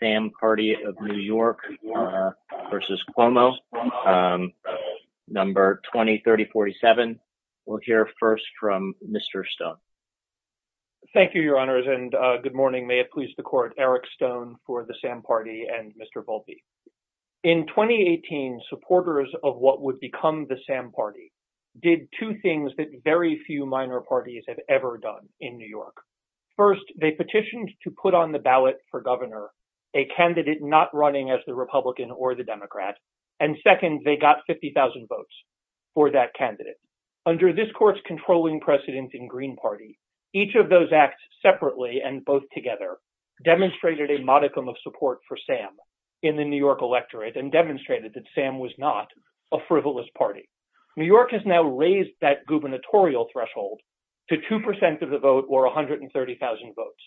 Sam Party of New York v. Cuomo In 2018, supporters of what would become the Sam Party did two things that very few minor First, they petitioned to put on the ballot for governor a candidate not running as the Republican or the Democrat, and second, they got 50,000 votes for that candidate. Under this court's controlling precedent in Green Party, each of those acts separately and both together demonstrated a modicum of support for Sam in the New York electorate and demonstrated that Sam was not a frivolous party. New York has now raised that gubernatorial threshold to 2% of the vote or 130,000 votes.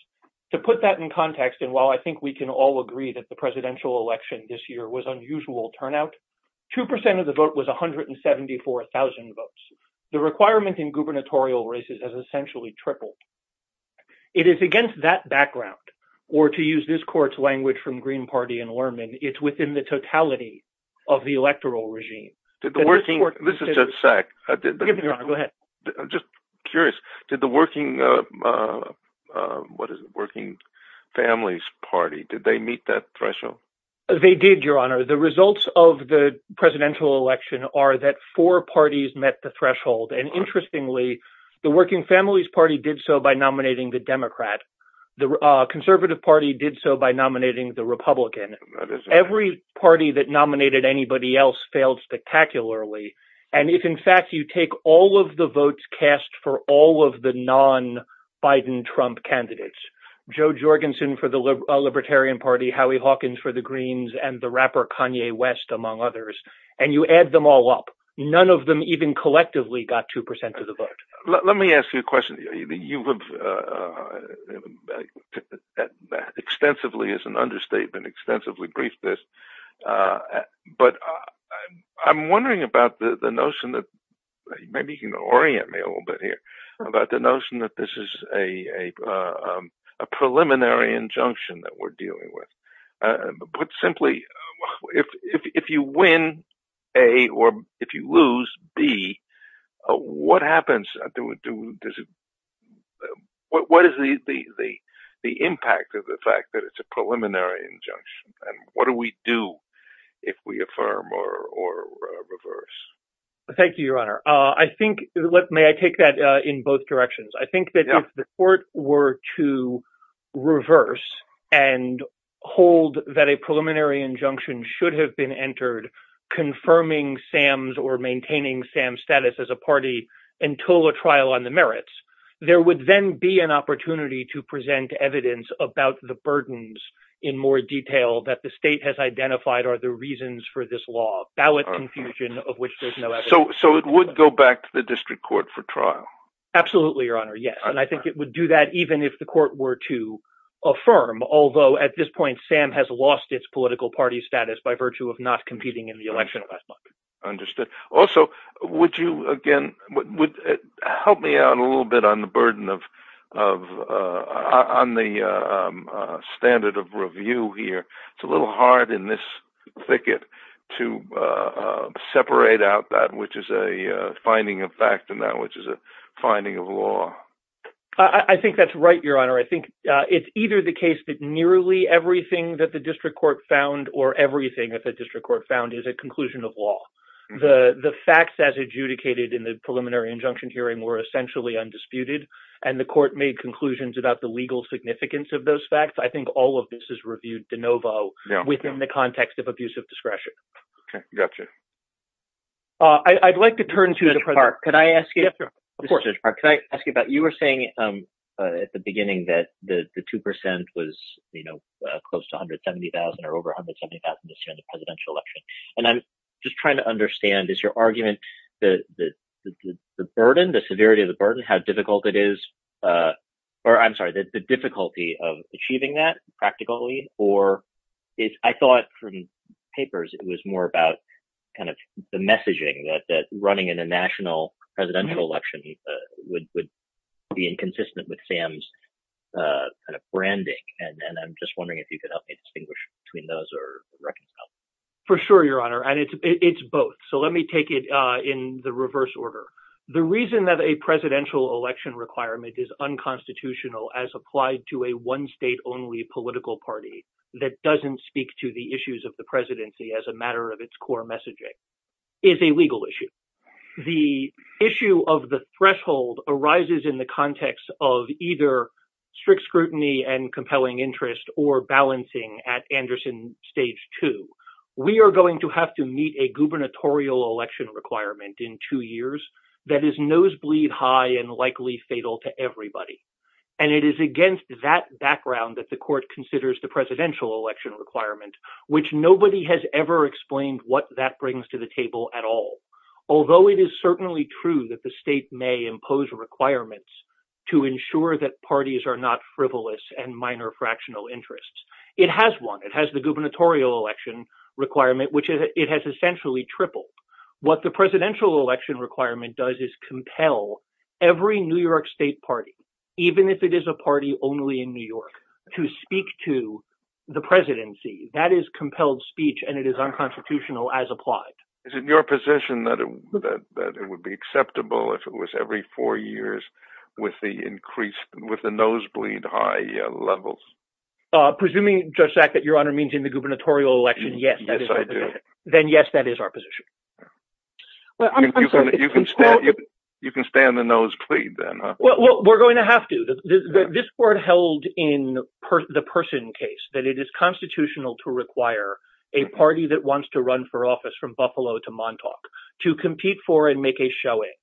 To put that in context, and while I think we can all agree that the presidential election this year was unusual turnout, 2% of the vote was 174,000 votes. The requirement in gubernatorial races has essentially tripled. It is against that background, or to use this court's language from Green Party and Lerman, it's within the totality of the electoral regime. Did the Working Families Party meet that threshold? They did, Your Honor. The results of the presidential election are that four parties met the threshold, and interestingly, the Working Families Party did so by nominating the Democrat. The Conservative Party did so by nominating the Republican. Every party that nominated anybody else failed spectacularly, and if in fact you take all of the votes cast for all of the non-Biden-Trump candidates, Joe Jorgensen for the Libertarian Party, Howie Hawkins for the Greens, and the rapper Kanye West, among others, and you add them all up, none of them even collectively got 2% of the vote. Let me ask you a question. You have extensively, as an understatement, extensively briefed this, but I'm wondering about the notion that, maybe you can orient me a little bit here, about the notion that this is a preliminary injunction that we're dealing with. Put simply, if you win, A, or if you lose, B, what is the impact of the fact that it's a preliminary injunction, and what do we do if we affirm or reverse? Thank you, Your Honor. May I take that in both directions? I think that if the court were to reverse and hold that a preliminary injunction should have been entered confirming Sam's or maintaining Sam's status as a party until a trial on the merits, there would then be an opportunity to present evidence about the burdens in more detail that the state has identified are the reasons for this law, ballot confusion of which there's no evidence. So, it would go back to the district court for trial? Absolutely, Your Honor. Yes. And I think it would do that even if the court were to affirm, although at this point Sam has lost its political party status by virtue of not competing in the election last month. Understood. Also, would you, again, help me out a little bit on the burden of, on the standard of review here. It's a little hard in this thicket to separate out that which is a finding of fact and that which is a finding of law. I think that's right, Your Honor. I think it's either the case that nearly everything that the district court found or everything that the district court found is a conclusion of law. The facts as adjudicated in the preliminary injunction hearing were essentially undisputed and the court made conclusions about the legal significance of those facts. I think all of this is reviewed de novo within the context of abusive discretion. Okay. Gotcha. I'd like to turn to Judge Park. Could I ask you, Judge Park, could I ask you about, you were saying at the beginning that the 2% was close to 170,000 or over 170,000 this year in the presidential election. And I'm just trying to understand, is your argument that the burden, the severity of the burden, how difficult it is, or I'm sorry, the difficulty of achieving that practically or I thought from papers it was more about kind of the messaging that running in a national presidential election would be inconsistent with Sam's kind of branding. And I'm just wondering if you could help me distinguish between those or reconcile. For sure, Your Honor. And it's both. So let me take it in the reverse order. The reason that a presidential election requirement is unconstitutional as applied to a one state only political party that doesn't speak to the issues of the presidency as a matter of its core messaging is a legal issue. The issue of the threshold arises in the context of either strict scrutiny and compelling interest or balancing at Anderson stage two. We are going to have to meet a gubernatorial election requirement in two years that is nosebleed high and likely fatal to everybody. And it is against that background that the court considers the presidential election requirement, which nobody has ever explained what that brings to the table at all. Although it is certainly true that the state may impose requirements to ensure that parties are not frivolous and minor fractional interests. It has one. It has the gubernatorial election requirement, which it has essentially tripled. What the presidential election requirement does is compel every New York state party, even if it is a party only in New York, to speak to the presidency. That is compelled speech, and it is unconstitutional as applied. Is it your position that it would be acceptable if it was every four years with the increased with the nosebleed high levels? Presuming just that your honor means in the gubernatorial election, yes, then yes, that is our position. Well, I mean, you can stand the nosebleed, then we're going to have to. This court held in the person case that it is constitutional to require a party that wants to run for office from Buffalo to Montauk to compete for and make a showing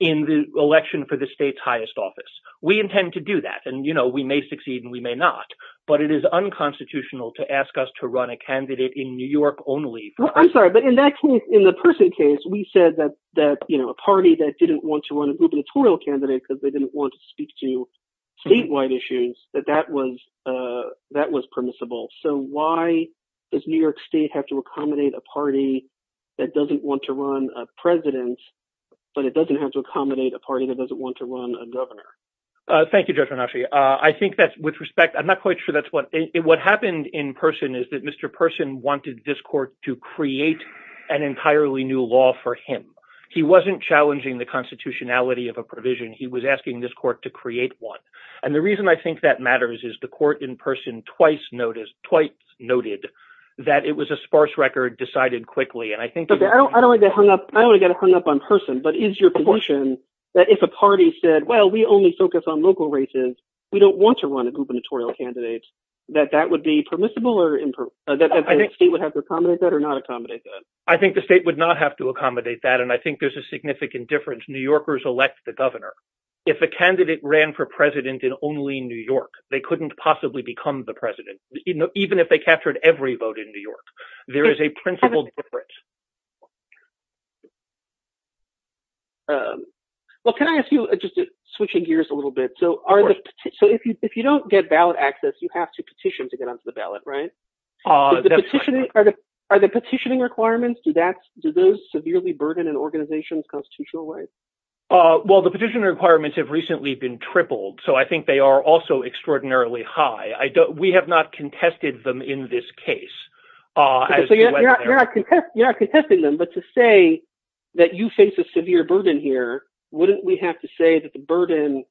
in the election for the state's highest office. We intend to do that and, you know, we may succeed and we may not. But it is unconstitutional to ask us to run a candidate in New York only. I'm sorry, but in that case, in the person case, we said that that, you know, a party that didn't want to run a gubernatorial candidate because they didn't want to speak to statewide issues that that was that was permissible. So why does New York state have to accommodate a party that doesn't want to run a president, but it doesn't have to accommodate a party that doesn't want to run a governor? Thank you, Judge Renacci. I think that's with respect. I'm not quite sure that's what it what happened in person is that Mr. Person wanted this court to create an entirely new law for him. He wasn't challenging the constitutionality of a provision. He was asking this court to create one. And the reason I think that matters is the court in person twice noticed, twice noted that it was a sparse record decided quickly. And I think I don't I don't like that hung up. I don't get hung up on person. But is your position that if a party said, well, we only focus on local races, we don't want to run a gubernatorial candidate, that that would be permissible or that I think the state would have to accommodate that or not accommodate that? I think the state would not have to accommodate that. And I think there's a significant difference. New Yorkers elect the governor. If a candidate ran for president in only New York, they couldn't possibly become the president. Even if they captured every vote in New York, there is a principal difference. Well, can I ask you just switching gears a little bit? So are the so if you if you don't get ballot access, you have to petition to get onto the ballot, right? Are the petitioning are the are the petitioning requirements that do those severely burden an organization's constitutional rights? Well, the petitioner requirements have recently been tripled. So I think they are also extraordinarily high. We have not contested them in this case. So you're not you're not contesting them. But to say that you face a severe burden here, wouldn't we have to say that the burden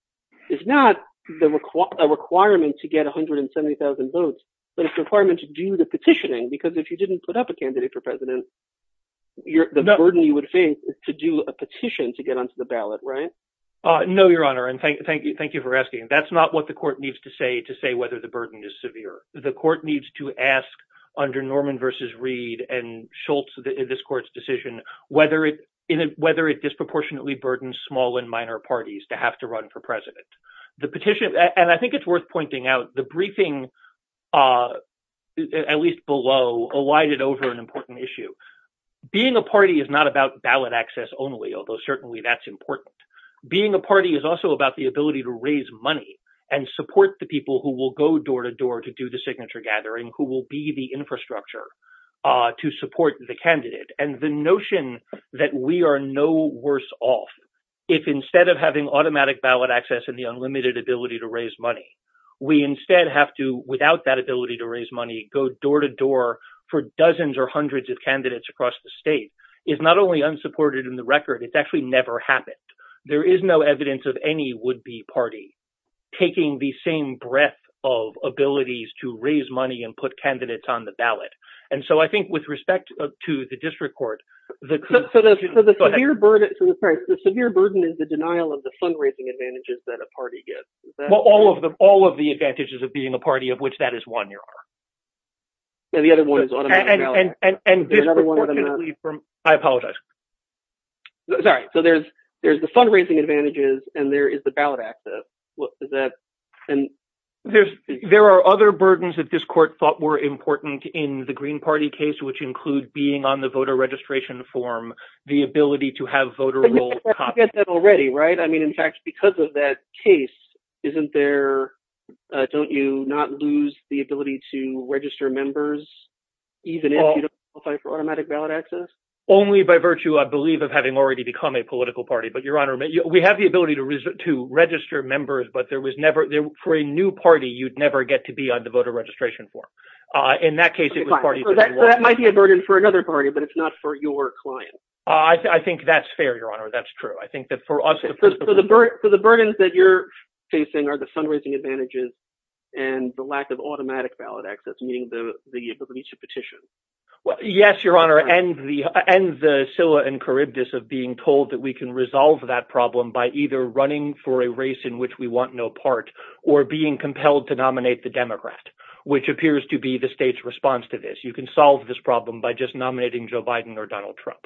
is not a requirement to get one hundred and seventy thousand votes, but it's a requirement to do the petitioning. Because if you didn't put up a candidate for president, you're the burden you would face is to do a petition to get onto the ballot. Right. No, Your Honor. And thank you. Thank you for asking. That's not what the court needs to say to say whether the burden is severe. The court needs to ask under Norman versus Reed and Schultz, this court's decision, whether it is whether it disproportionately burdens small and minor parties to have to run for president. The petition. And I think it's worth pointing out the briefing, at least below, alighted over an important issue. Being a party is not about ballot access only, although certainly that's important. Being a party is also about the ability to raise money and support the people who will go door to door to do the signature gathering, who will be the infrastructure to support the candidate. And the notion that we are no worse off if instead of having automatic ballot access and the unlimited ability to raise money, we instead have to, without that ability to raise money, go door to door for dozens or hundreds of candidates across the state is not only unsupported in the record, it's actually never happened. There is no evidence of any would be party taking the same breadth of abilities to raise money and put candidates on the ballot. And so I think with respect to the district court, the severe burden is the denial of the fundraising advantages that a party gets. Well, all of them, all of the advantages of being a party of which that is one, your honor. And the other one is automatic ballot. And I apologize. Sorry. So there's the fundraising advantages and there is the ballot access. And there's there are other burdens that this court thought were important in the Green Party case, which include being on the voter registration form, the ability to have voter will get that already. Right. I mean, in fact, because of that case, isn't there. Don't you not lose the ability to register members even if you don't qualify for automatic ballot access only by virtue, I believe, of having already become a political party. But your honor, we have the ability to to register members. But there was never for a new party. You'd never get to be on the voter registration form. In that case, it might be a burden for another party, but it's not for your client. I think that's fair, your honor. That's true. I think that for us, for the for the burdens that you're facing are the fundraising advantages and the lack of automatic ballot access, meaning the ability to petition. Well, yes, your honor, and the and the Scylla and Charybdis of being told that we can resolve that problem by either running for a race in which we want no part or being compelled to nominate the Democrat, which appears to be the state's response to this. You can solve this problem by just nominating Joe Biden or Donald Trump.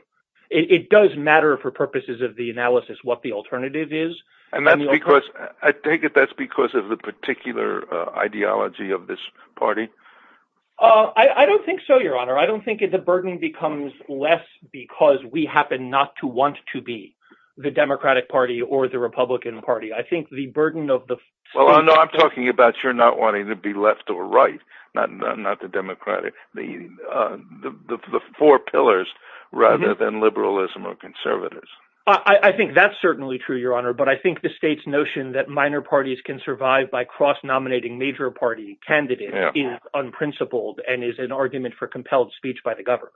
It does matter for purposes of the analysis what the alternative is. And that's because I take it that's because of the particular ideology of this party. I don't think so, your honor. I don't think the burden becomes less because we happen not to want to be the Democratic Party or the Republican Party. I think the burden of the. Well, I know I'm talking about you're not wanting to be left or right, not not the Democratic, the the four pillars rather than liberalism or conservatives. I think that's certainly true, your honor. But I think the state's notion that minor parties can survive by cross nominating major party candidate is unprincipled and is an argument for compelled speech by the government,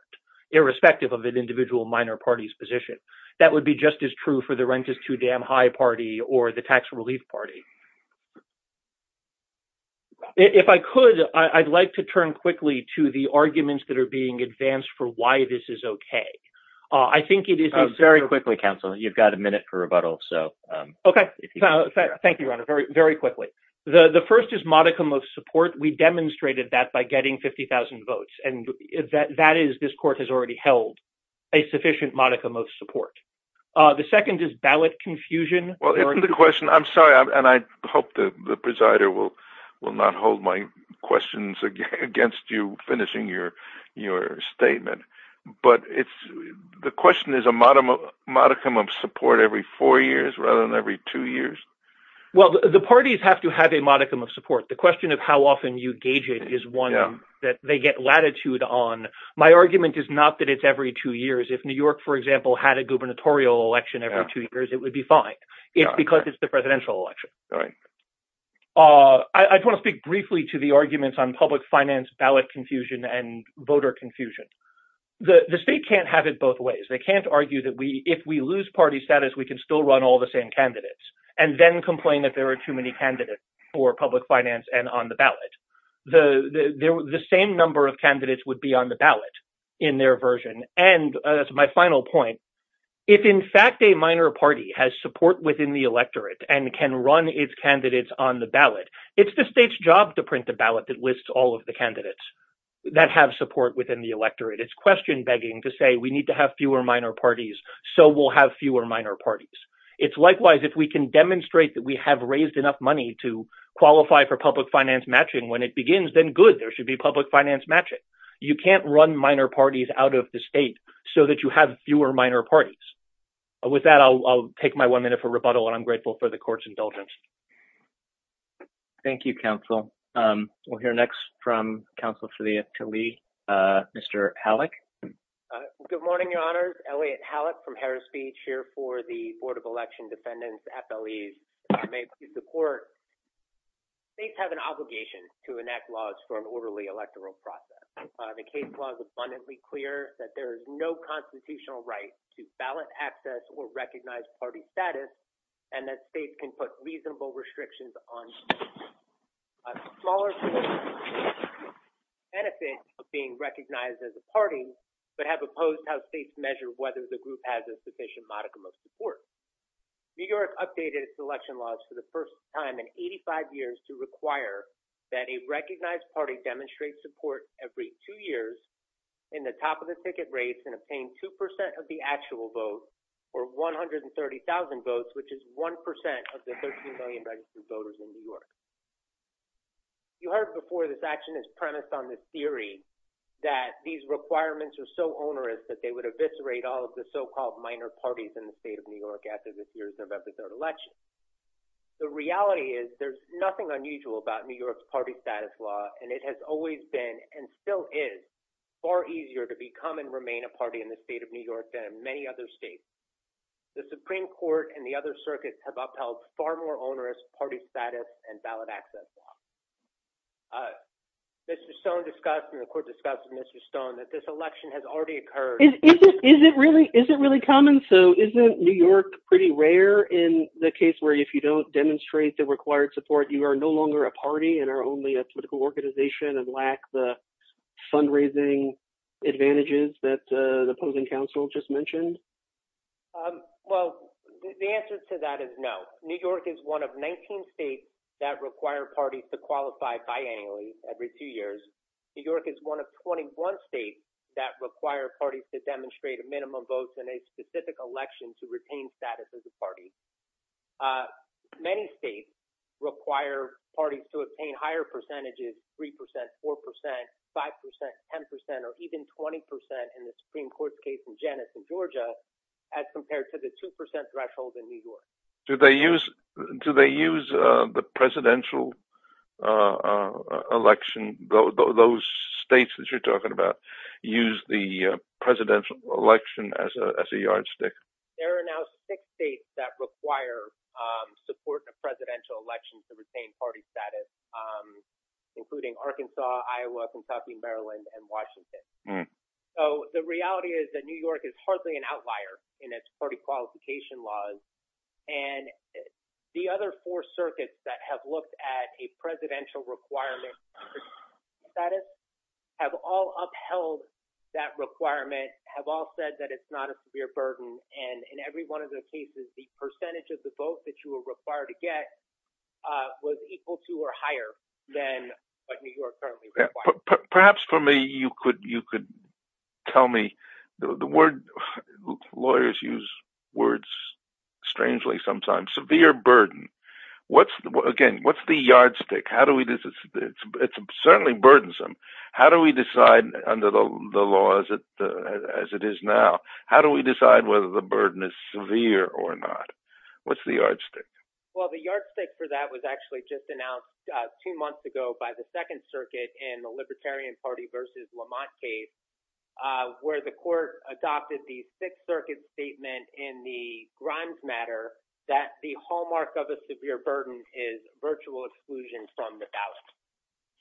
irrespective of an individual minor party's position. That would be just as true for the rent is too damn high party or the tax relief party. If I could, I'd like to turn quickly to the arguments that are being advanced for why this is OK. I think it is very quickly, counsel. You've got a minute for rebuttal. So OK. Thank you very, very quickly. The first is modicum of support. We demonstrated that by getting 50000 votes and that that is this court has already held a sufficient modicum of support. The second is ballot confusion. Well, the question I'm sorry, and I hope the presider will will not hold my questions against you finishing your your statement. But it's the question is a modicum of modicum of support every four years rather than every two years. Well, the parties have to have a modicum of support. The question of how often you gauge it is one that they get latitude on. My argument is not that it's every two years. If New York, for example, had a gubernatorial election every two years, it would be fine because it's the presidential election. All right. I want to speak briefly to the arguments on public finance, ballot confusion and voter confusion. The state can't have it both ways. They can't argue that we if we lose party status, we can still run all the same candidates. And then complain that there are too many candidates for public finance and on the ballot. The same number of candidates would be on the ballot in their version. And that's my final point. If, in fact, a minor party has support within the electorate and can run its candidates on the ballot, it's the state's job to print the ballot that lists all of the candidates that have support within the electorate. It's question begging to say we need to have fewer minor parties, so we'll have fewer minor parties. It's likewise. If we can demonstrate that we have raised enough money to qualify for public finance matching when it begins, then good. There should be public finance matching. You can't run minor parties out of the state so that you have fewer minor parties. With that, I'll take my one minute for rebuttal and I'm grateful for the court's indulgence. Thank you, counsel. We'll hear next from counsel for the to me, Mr. Halleck. Good morning, your honor. Elliott Halleck from Harris Beach here for the Board of Election Defendants. FLEs are made to support. States have an obligation to enact laws for an orderly electoral process. The case law is abundantly clear that there is no constitutional right to ballot access or recognize party status and that states can put reasonable restrictions on smaller benefits of being recognized as a party, but have opposed how states measure whether the group has a sufficient modicum of support. New York updated its election laws for the first time in 85 years to require that a recognized party demonstrate support every two years in the top of the ticket race and obtain two percent of the actual vote or one hundred and thirty thousand votes, which is one percent of the 13 million registered voters in New York. You heard before this action is premised on the theory that these requirements are so onerous that they would eviscerate all of the so-called minor parties in the New York after this year's November election. The reality is there's nothing unusual about New York's party status law, and it has always been and still is far easier to become and remain a party in the state of New York than in many other states. The Supreme Court and the other circuits have upheld far more onerous party status and ballot access. Mr. Stone discussed in the court discussion, Mr. Stone, that this election has already occurred. Is it really? Is it really common? So isn't New York pretty rare in the case where if you don't demonstrate the required support, you are no longer a party and are only a political organization and lack the fundraising advantages that the opposing counsel just mentioned? Well, the answer to that is no. New York is one of 19 states that require parties to qualify biannually every two years. New York is one of 21 states that require parties to demonstrate a minimum vote in a specific election to retain status as a party. Many states require parties to obtain higher percentages, 3 percent, 4 percent, 5 percent, 10 percent or even 20 percent in the Supreme Court's case in Janice in Georgia as compared to the 2 percent threshold in New York. Do they use do they use the presidential election? Those states that you're talking about use the presidential election as a yardstick. There are now six states that require support in a presidential election to retain party status, including Arkansas, Iowa, Kentucky, Maryland and Washington. So the reality is that New York is hardly an outlier in its party qualification laws. And the other four circuits that have looked at a presidential requirement status have all upheld that requirement, have all said that it's not a severe burden. And in every one of those cases, the percentage of the vote that you were required to get was equal to or higher than what New York currently requires. Perhaps for me, you could you could tell me the word lawyers use words strangely, sometimes severe burden. What's again, what's the yardstick? How do we do this? It's certainly burdensome. How do we decide under the laws as it is now? How do we decide whether the burden is severe or not? What's the yardstick? Well, the yardstick for that was actually just announced two months ago by the Second Circuit in the Libertarian Party versus Lamont case where the court adopted the Sixth Circuit statement in the Grimes matter that the hallmark of a severe burden is virtual exclusion from the ballot.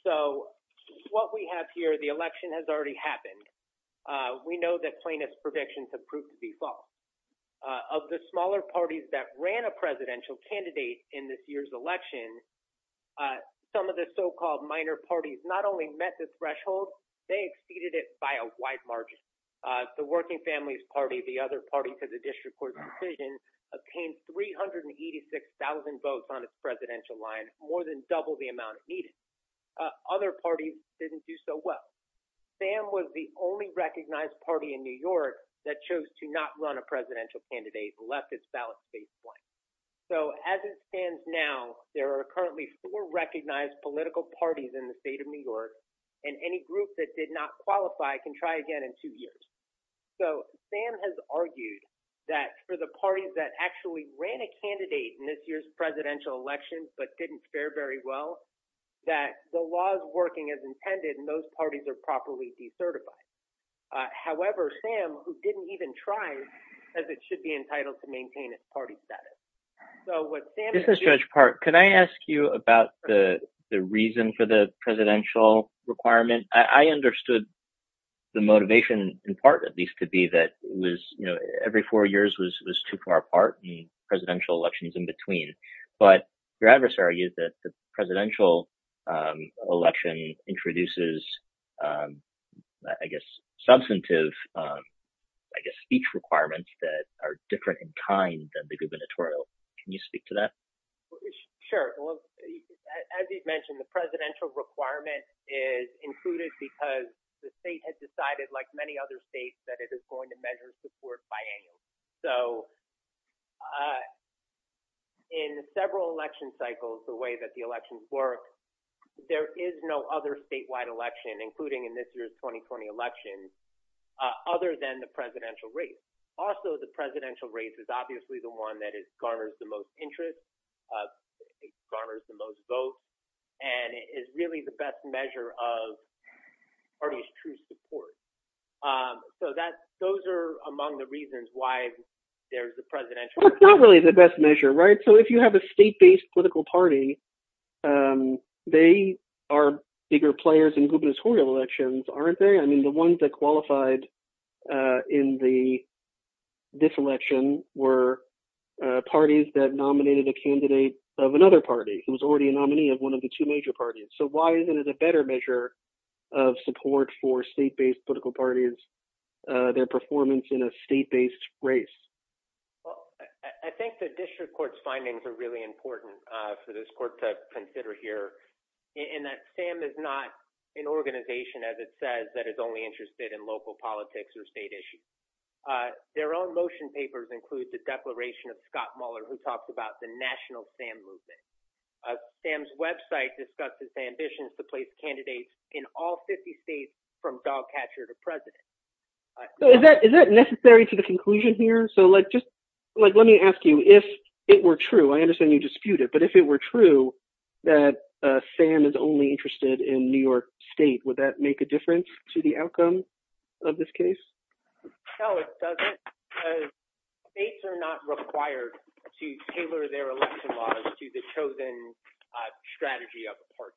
So what we have here, the election has already happened. We know that plaintiff's predictions have proved to be false of the smaller parties that ran a presidential candidate in this year's election. Some of the so-called minor parties not only met this threshold, they exceeded it by a wide margin. The Working Families Party, the other party to the district court decision, obtained three hundred and eighty six thousand votes on its presidential line, more than double the amount it needed. Other parties didn't do so well. Sam was the only recognized party in New York that chose to not run a presidential candidate, left its ballot space blank. So as it stands now, there are currently four recognized political parties in the District Court that have not run a presidential candidate in this year's election. And they're going to try again in two years. So Sam has argued that for the parties that actually ran a candidate in this year's presidential election, but didn't fare very well, that the law is working as intended and those parties are properly decertified. However, Sam, who didn't even try, as it should be entitled to maintain its party status. This is Judge Park. Can I ask you about the reason for the presidential requirement? I understood the motivation in part, at least to be that it was, you know, every four years was too far apart and presidential elections in between. But your adversary is that the presidential election introduces, I guess, substantive, I guess, speech requirements that are different in kind than the gubernatorial. Can you speak to that? Sure. As you mentioned, the presidential requirement is included because the state has decided, like many other states, that it is going to measure support biannually. So in several election cycles, the way that the elections work, there is no other 2020 elections other than the presidential race. Also, the presidential race is obviously the one that garners the most interest, garners the most votes and is really the best measure of party's true support. So that those are among the reasons why there's the presidential. Well, it's not really the best measure, right? So if you have a state based political party, they are bigger players in gubernatorial elections, aren't they? I mean, the ones that qualified in the this election were parties that nominated a candidate of another party who was already a nominee of one of the two major parties. So why isn't it a better measure of support for state based political parties, their performance in a state based race? Well, I think the district court's findings are really important for this court to hear, in that SAM is not an organization, as it says, that is only interested in local politics or state issues. Their own motion papers include the declaration of Scott Mueller, who talks about the national SAM movement. SAM's website discusses ambitions to place candidates in all 50 states from dog catcher to president. So is that is that necessary to the conclusion here? So let me ask you, if it were true, I understand you dispute it, but if it were true that SAM is only interested in New York state, would that make a difference to the outcome of this case? No, it doesn't. States are not required to tailor their election laws to the chosen strategy of the party.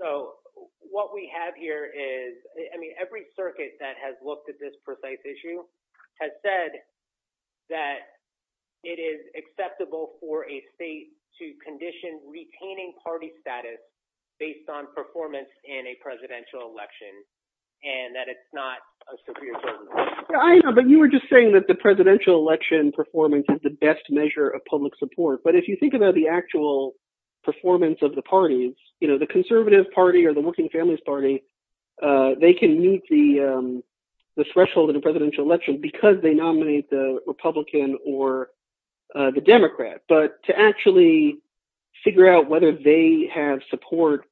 So what we have here is, I mean, every circuit that has looked at this precise issue has said that it is acceptable for a state to condition retaining party status based on performance in a presidential election and that it's not a severe burden on the party. I know, but you were just saying that the presidential election performance is the best measure of public support. But if you think about the actual performance of the parties, you know, the conservative party or the Working Families Party, they can meet the threshold of the nominee, the Republican or the Democrat. But to actually figure out whether they have support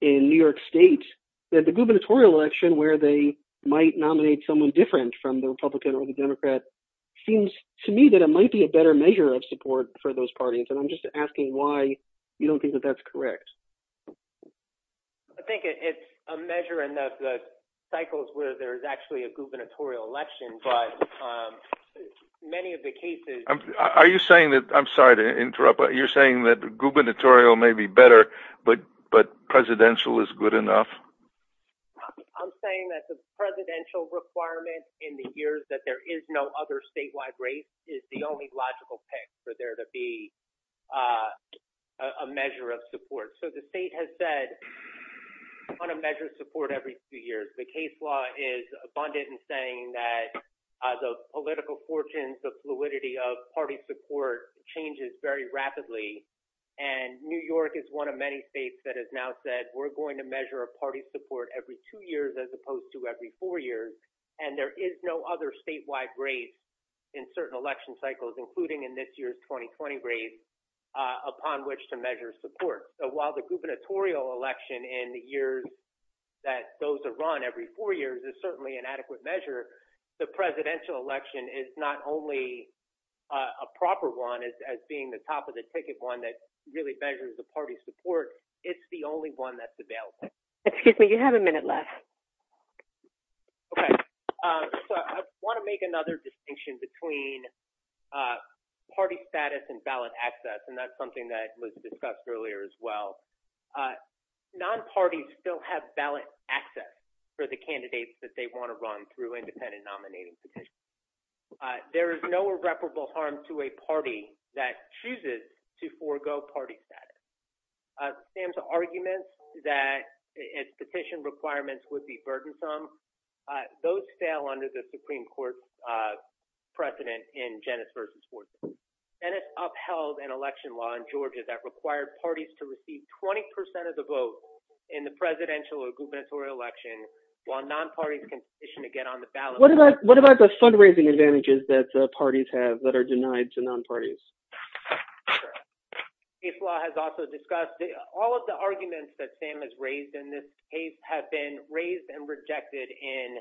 in New York state, that the gubernatorial election where they might nominate someone different from the Republican or the Democrat seems to me that it might be a better measure of support for those parties. And I'm just asking why you don't think that that's correct. I think it's a measure in the cycles where there is actually a gubernatorial election, but many of the cases. Are you saying that I'm sorry to interrupt, but you're saying that gubernatorial may be better, but but presidential is good enough. I'm saying that the presidential requirement in the years that there is no other statewide race is the only logical pick for there to be a measure of support. So the state has said on a measure of support every few years. The case law is abundant in saying that the political fortunes, the fluidity of party support changes very rapidly. And New York is one of many states that has now said we're going to measure a party support every two years as opposed to every four years. And there is no other statewide race in certain election cycles, including in this year's 2020 race, upon which to measure support. While the gubernatorial election in the years that those are run every four years is certainly an adequate measure, the presidential election is not only a proper one as being the top of the ticket one that really measures the party support. It's the only one that's available. Excuse me. You have a minute left. OK, so I want to make another distinction between party status and ballot access, and that's something that was discussed earlier as well. Non-parties still have ballot access for the candidates that they want to run through independent nominating petitions. There is no irreparable harm to a party that chooses to forego party status. Sam's argument that its petition requirements would be burdensome. Those fail under the Supreme Court precedent in Janet's v. Law in Georgia that required parties to receive 20 percent of the vote in the presidential or gubernatorial election while non-parties can petition to get on the ballot. What about what about the fundraising advantages that parties have that are denied to non-parties? Case law has also discussed all of the arguments that Sam has raised in this case have been raised and rejected in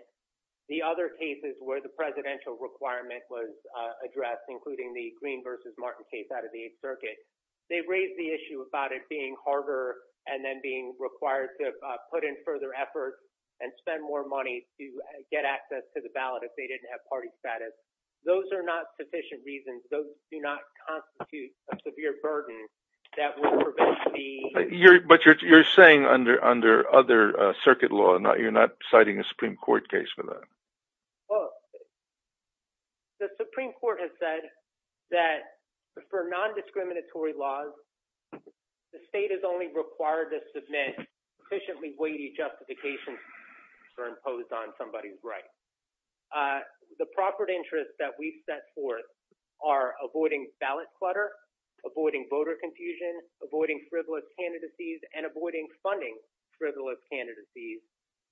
the other cases where the presidential requirement was They raised the issue about it being harder and then being required to put in further effort and spend more money to get access to the ballot if they didn't have party status. Those are not sufficient reasons. Those do not constitute a severe burden that will prevent the. But you're saying under under other circuit law, you're not citing a Supreme Court case for that. Well. The Supreme Court has said that for non-discriminatory laws, the state is only required to submit sufficiently weighty justifications for imposed on somebody's right. The property interests that we set forth are avoiding ballot clutter, avoiding voter confusion, avoiding frivolous candidacies and avoiding funding frivolous candidacies.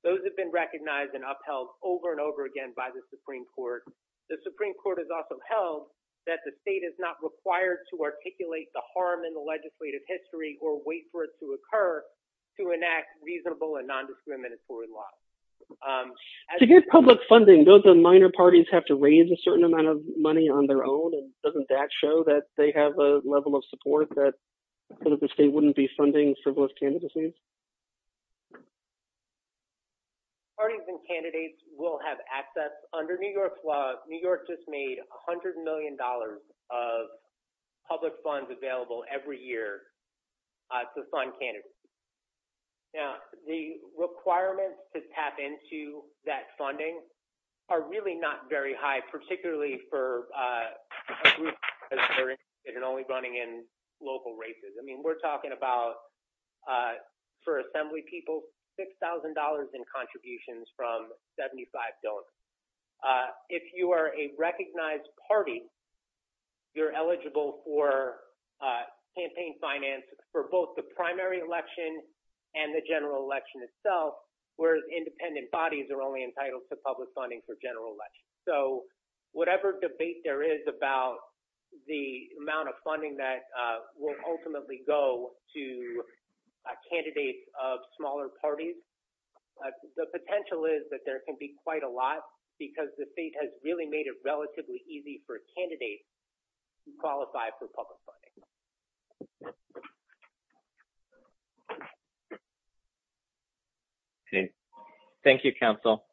Those have been recognized and upheld over and over again by the Supreme Court. The Supreme Court has also held that the state is not required to articulate the harm in the legislative history or wait for it to occur to enact reasonable and non-discriminatory laws. To get public funding, those minor parties have to raise a certain amount of money on their own. And doesn't that show that they have a level of support that the state wouldn't be funding frivolous candidacies? Parties and candidates will have access under New York law. New York just made a hundred million dollars of public funds available every year to fund candidates. Now, the requirements to tap into that funding are really not very high, particularly for a group that is only running in local races. I mean, we're talking about, for assembly people, six thousand dollars in contributions from seventy five donors. If you are a recognized party. You're eligible for campaign finance for both the primary election and the general election itself, whereas independent bodies are only entitled to public funding for general election. So whatever debate there is about the amount of funding that will ultimately go to a candidate of smaller parties, the potential is that there can be quite a lot because the state has really made it relatively easy for a candidate to qualify for public funding. Thank you, counsel.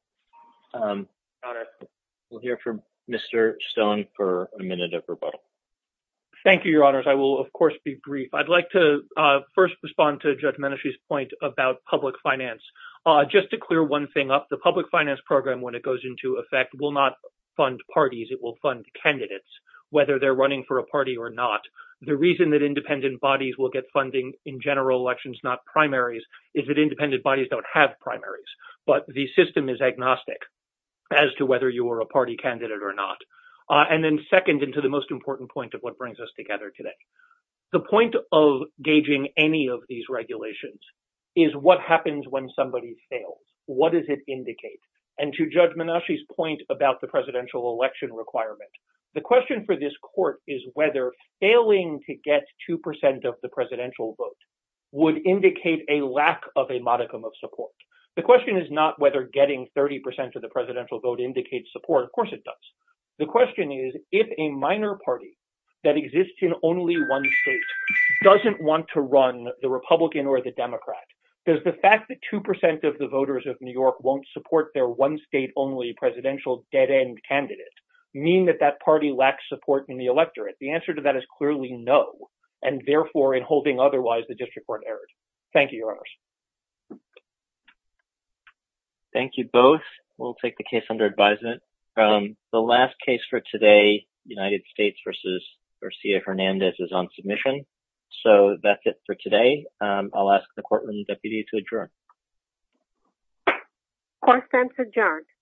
We'll hear from Mr. Stone for a minute of rebuttal. Thank you, your honors. I will, of course, be brief. I'd like to first respond to Judge Menashe's point about public finance. Just to clear one thing up, the public finance program, when it goes into effect, will not fund parties. It will fund candidates, whether they're running for a party or not. The reason that independent bodies will get funding in general elections, not primaries, is that independent bodies don't have primaries. But the system is agnostic as to whether you are a party candidate or not. And then second, into the most important point of what brings us together today. The point of gauging any of these regulations is what happens when somebody fails. What does it indicate? And to Judge Menashe's point about the presidential election requirement, the question for this court is whether failing to get 2 percent of the presidential vote would indicate a lack of a modicum of support. The question is not whether getting 30 percent of the presidential vote indicates support. Of course it does. The question is, if a minor party that exists in only one state doesn't want to run the Republican or the Democrat, does the fact that 2 percent of the voters of New York won't support their one state only presidential dead end candidate mean that that party lacks support in the electorate? The answer to that is clearly no. And therefore, in holding otherwise, the district court erred. Thank you, Your Honors. Thank you both. We'll take the case under advisement. The last case for today, United States versus Garcia-Hernandez, is on submission. So that's it for today. I'll ask the courtroom deputy to adjourn. Court is adjourned.